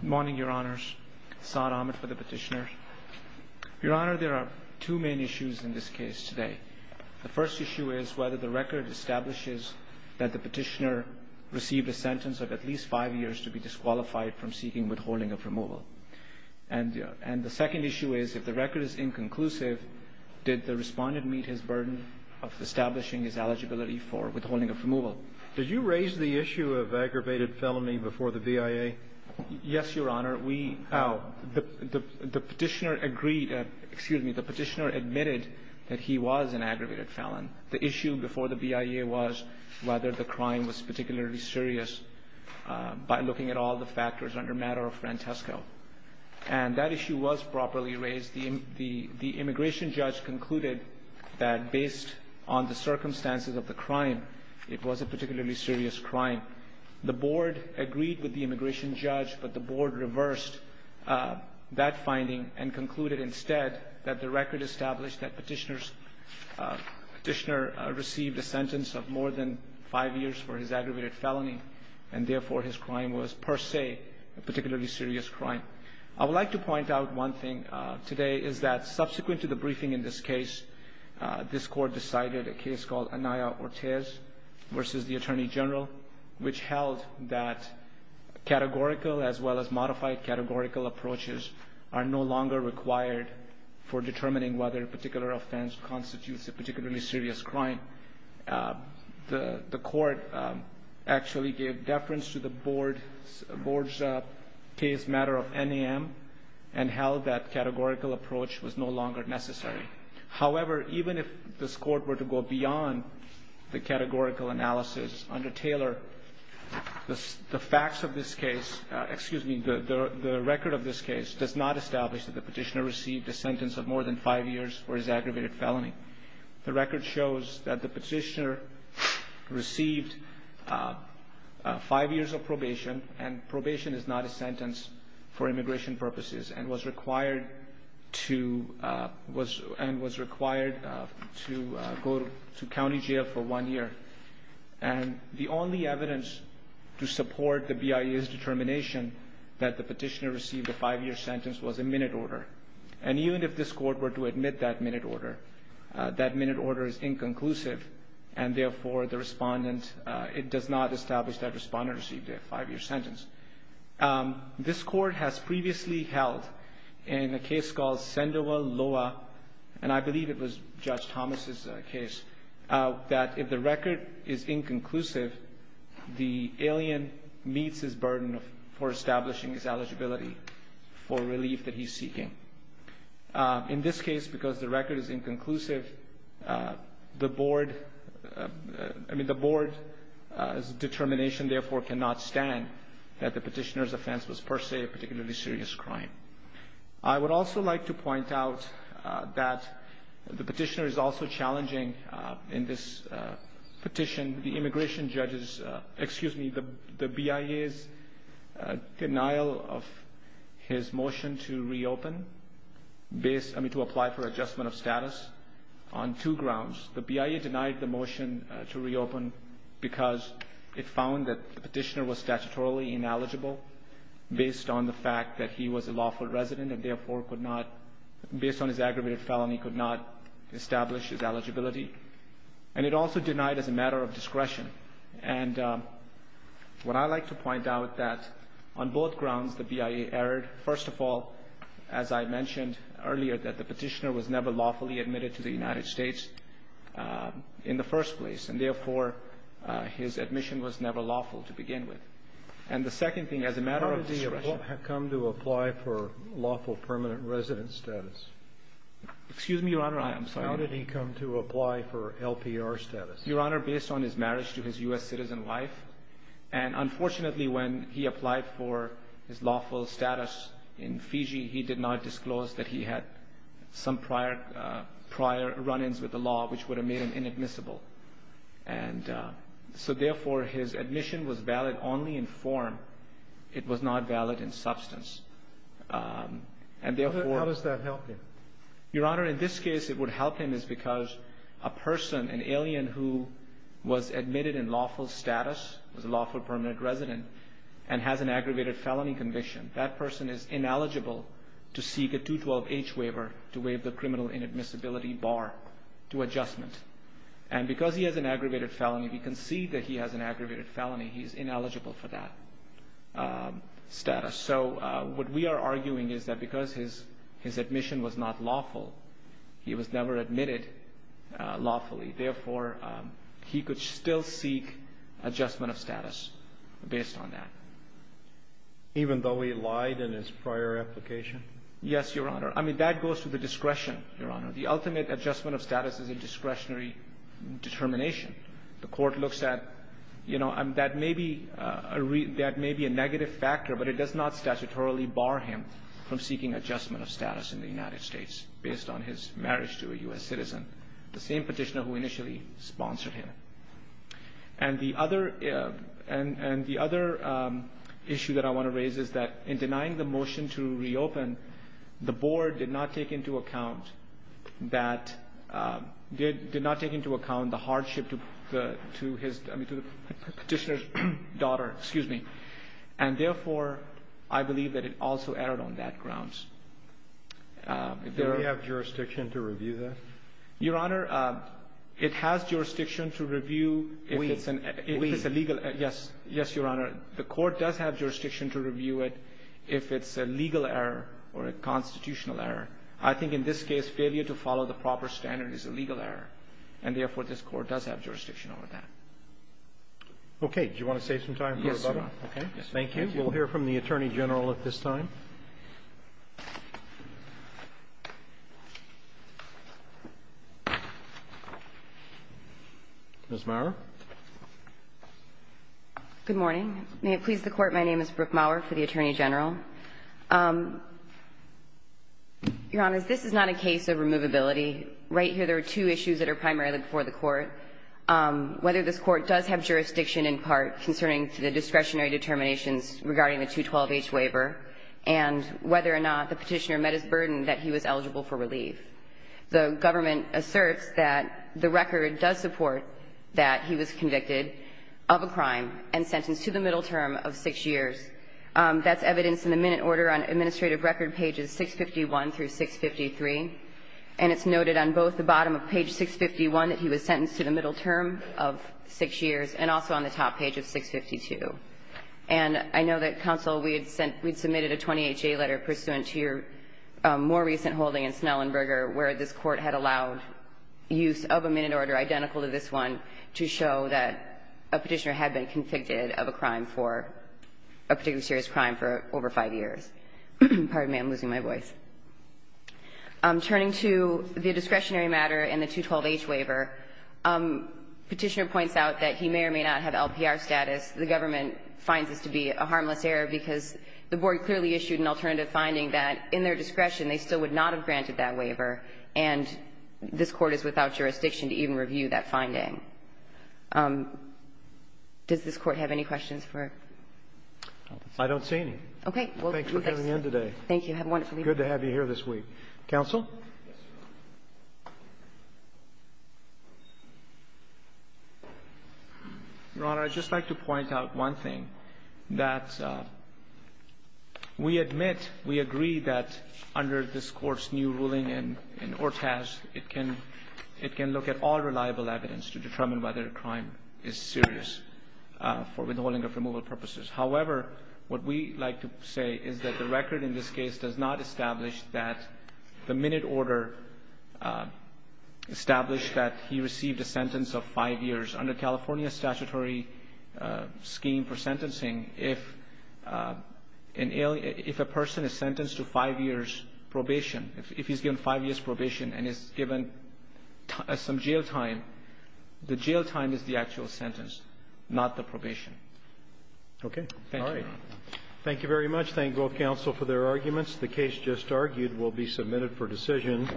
Good morning, your honors. Saad Ahmed for the petitioner. Your honor, there are two main issues in this case today. The first issue is whether the record establishes that the petitioner received a sentence of at least five years to be disqualified from seeking withholding of removal. And the second issue is if the record is inconclusive, did the respondent meet his burden of establishing his eligibility for withholding of removal? Did you raise the issue of aggravated felony before the BIA? Yes, your honor. We, the petitioner agreed, excuse me, the petitioner admitted that he was an aggravated felon. The issue before the BIA was whether the crime was particularly serious by looking at all the factors under matter of Francesco. And that issue was properly raised. The immigration judge concluded that based on the circumstances of the crime, it was a particularly serious crime. The board agreed with the immigration judge, but the board reversed that finding and concluded instead that the record established that petitioner received a sentence of more than five years for his aggravated felony. And therefore, his crime was per se a particularly serious crime. I would like to point out one thing today is that subsequent to the briefing in this case, this court decided a case called Anaya Ortez versus the attorney general, which held that categorical as well as modified categorical approaches are no longer required for determining whether a particular offense constitutes a particularly serious crime. The court actually gave deference to the board's case matter of NAM and held that categorical approach was no longer necessary. However, even if this court were to go beyond the categorical analysis under Taylor, the facts of this case, excuse me, the record of this case does not establish that the petitioner received a sentence of more than five years for his aggravated felony. The record shows that the petitioner received five years of probation, and probation is not a sentence for immigration purposes, and was required to go to county jail for one year. And the only evidence to support the BIA's determination that the petitioner received a five-year sentence was a minute order. And even if this court were to admit that minute order, that minute order is inconclusive, and therefore the respondent, it does not establish that respondent received a five-year sentence. This court has previously held in a case called Sandoval Loa, and I believe it was Judge Thomas' case, that if the record is inconclusive, the alien meets his burden for establishing his eligibility for relief that he's seeking. In this case, because the record is inconclusive, the board's determination, therefore, cannot stand that the petitioner's offense was per se a particularly serious crime. I would also like to point out that the petitioner is also challenging, in this petition, the immigration judge's, excuse me, the BIA's denial of his motion to reopen, I mean to apply for adjustment of status, on two grounds. The BIA denied the motion to reopen because it found that the petitioner was statutorily ineligible based on the fact that he was a lawful resident and therefore could not, based on his aggravated felony, could not establish his eligibility. And it also denied as a matter of discretion. And what I like to point out that on both grounds the BIA erred. First of all, as I mentioned earlier, that the petitioner was never lawfully admitted to the United States in the first place, and therefore his admission was never lawful to begin with. And the second thing, as a matter of discretion. How did he come to apply for lawful permanent resident status? Excuse me, Your Honor, I'm sorry. How did he come to apply for LPR status? Your Honor, based on his marriage to his U.S. citizen wife, and unfortunately when he applied for his lawful status in Fiji, he did not disclose that he had some prior run-ins with the law which would have made him inadmissible. And so therefore his admission was valid only in form. It was not valid in substance. And therefore How does that help him? Your Honor, in this case it would help him because a person, an alien who was admitted in lawful status, was a lawful permanent resident, and has an aggravated felony conviction, that person is ineligible to seek a 212H waiver to waive the criminal inadmissibility bar to adjustment. And because he has an aggravated felony, we can see that he has an aggravated felony, he's ineligible for that status. So what we are arguing is that because his admission was not lawful, he was never admitted lawfully. Therefore, he could still seek adjustment of status based on that. Even though he lied in his prior application? Yes, Your Honor. The ultimate adjustment of status is a discretionary determination. The court looks at, you know, that may be a negative factor, but it does not statutorily bar him from seeking adjustment of status in the United States, based on his marriage to a U.S. citizen, the same petitioner who initially sponsored him. And the other issue that I want to raise is that in denying the motion to reopen, the board did not take into account the hardship to the petitioner's daughter. And therefore, I believe that it also erred on that grounds. Do we have jurisdiction to review that? Your Honor, it has jurisdiction to review if it's a legal error. Wait. Yes, Your Honor. The court does have jurisdiction to review it if it's a legal error or a constitutional error. I think in this case, failure to follow the proper standard is a legal error. And therefore, this court does have jurisdiction over that. Okay. Do you want to save some time for rebuttal? Yes, Your Honor. Okay. Thank you. We'll hear from the Attorney General at this time. Ms. Maurer. Good morning. May it please the Court, my name is Brooke Maurer for the Attorney General. Your Honor, this is not a case of removability. Right here there are two issues that are primarily before the Court, whether this Court does have jurisdiction in part concerning the discretionary determinations regarding the 212H waiver and whether or not the petitioner met his burden that he was eligible for relief. The government asserts that the record does support that he was convicted of a crime and sentenced to the middle term of 6 years. That's evidence in the minute order on administrative record pages 651 through 653. And it's noted on both the bottom of page 651 that he was sentenced to the middle term of 6 years and also on the top page of 652. And I know that, Counsel, we had submitted a 28J letter pursuant to your more recent holding in Snellenberger where this Court had allowed use of a minute order identical to this one to show that a petitioner had been convicted of a crime for a particularly serious crime for over 5 years. Pardon me, I'm losing my voice. Turning to the discretionary matter and the 212H waiver, Petitioner points out that he may or may not have LPR status. The government finds this to be a harmless error because the Board clearly issued an alternative finding that in their discretion they still would not have granted that waiver, and this Court is without jurisdiction to even review that finding. Does this Court have any questions for? I don't see any. Okay. Thanks for coming in today. Thank you. Have a wonderful evening. Good to have you here this week. Counsel? Your Honor, I'd just like to point out one thing, that we admit, we agree that under this Court's new ruling in Ortaz, it can look at all reliable evidence to determine whether a crime is serious for withholding of removal purposes. However, what we like to say is that the record in this case does not establish that the minute order established that he received a sentence of five years. Under California statutory scheme for sentencing, if a person is sentenced to five years probation, if he's given five years probation and is given some jail time, the jail time is the actual sentence, not the probation. Okay. Thank you, Your Honor. All right. Thank you very much. Let's thank both counsel for their arguments. The case just argued will be submitted for decision.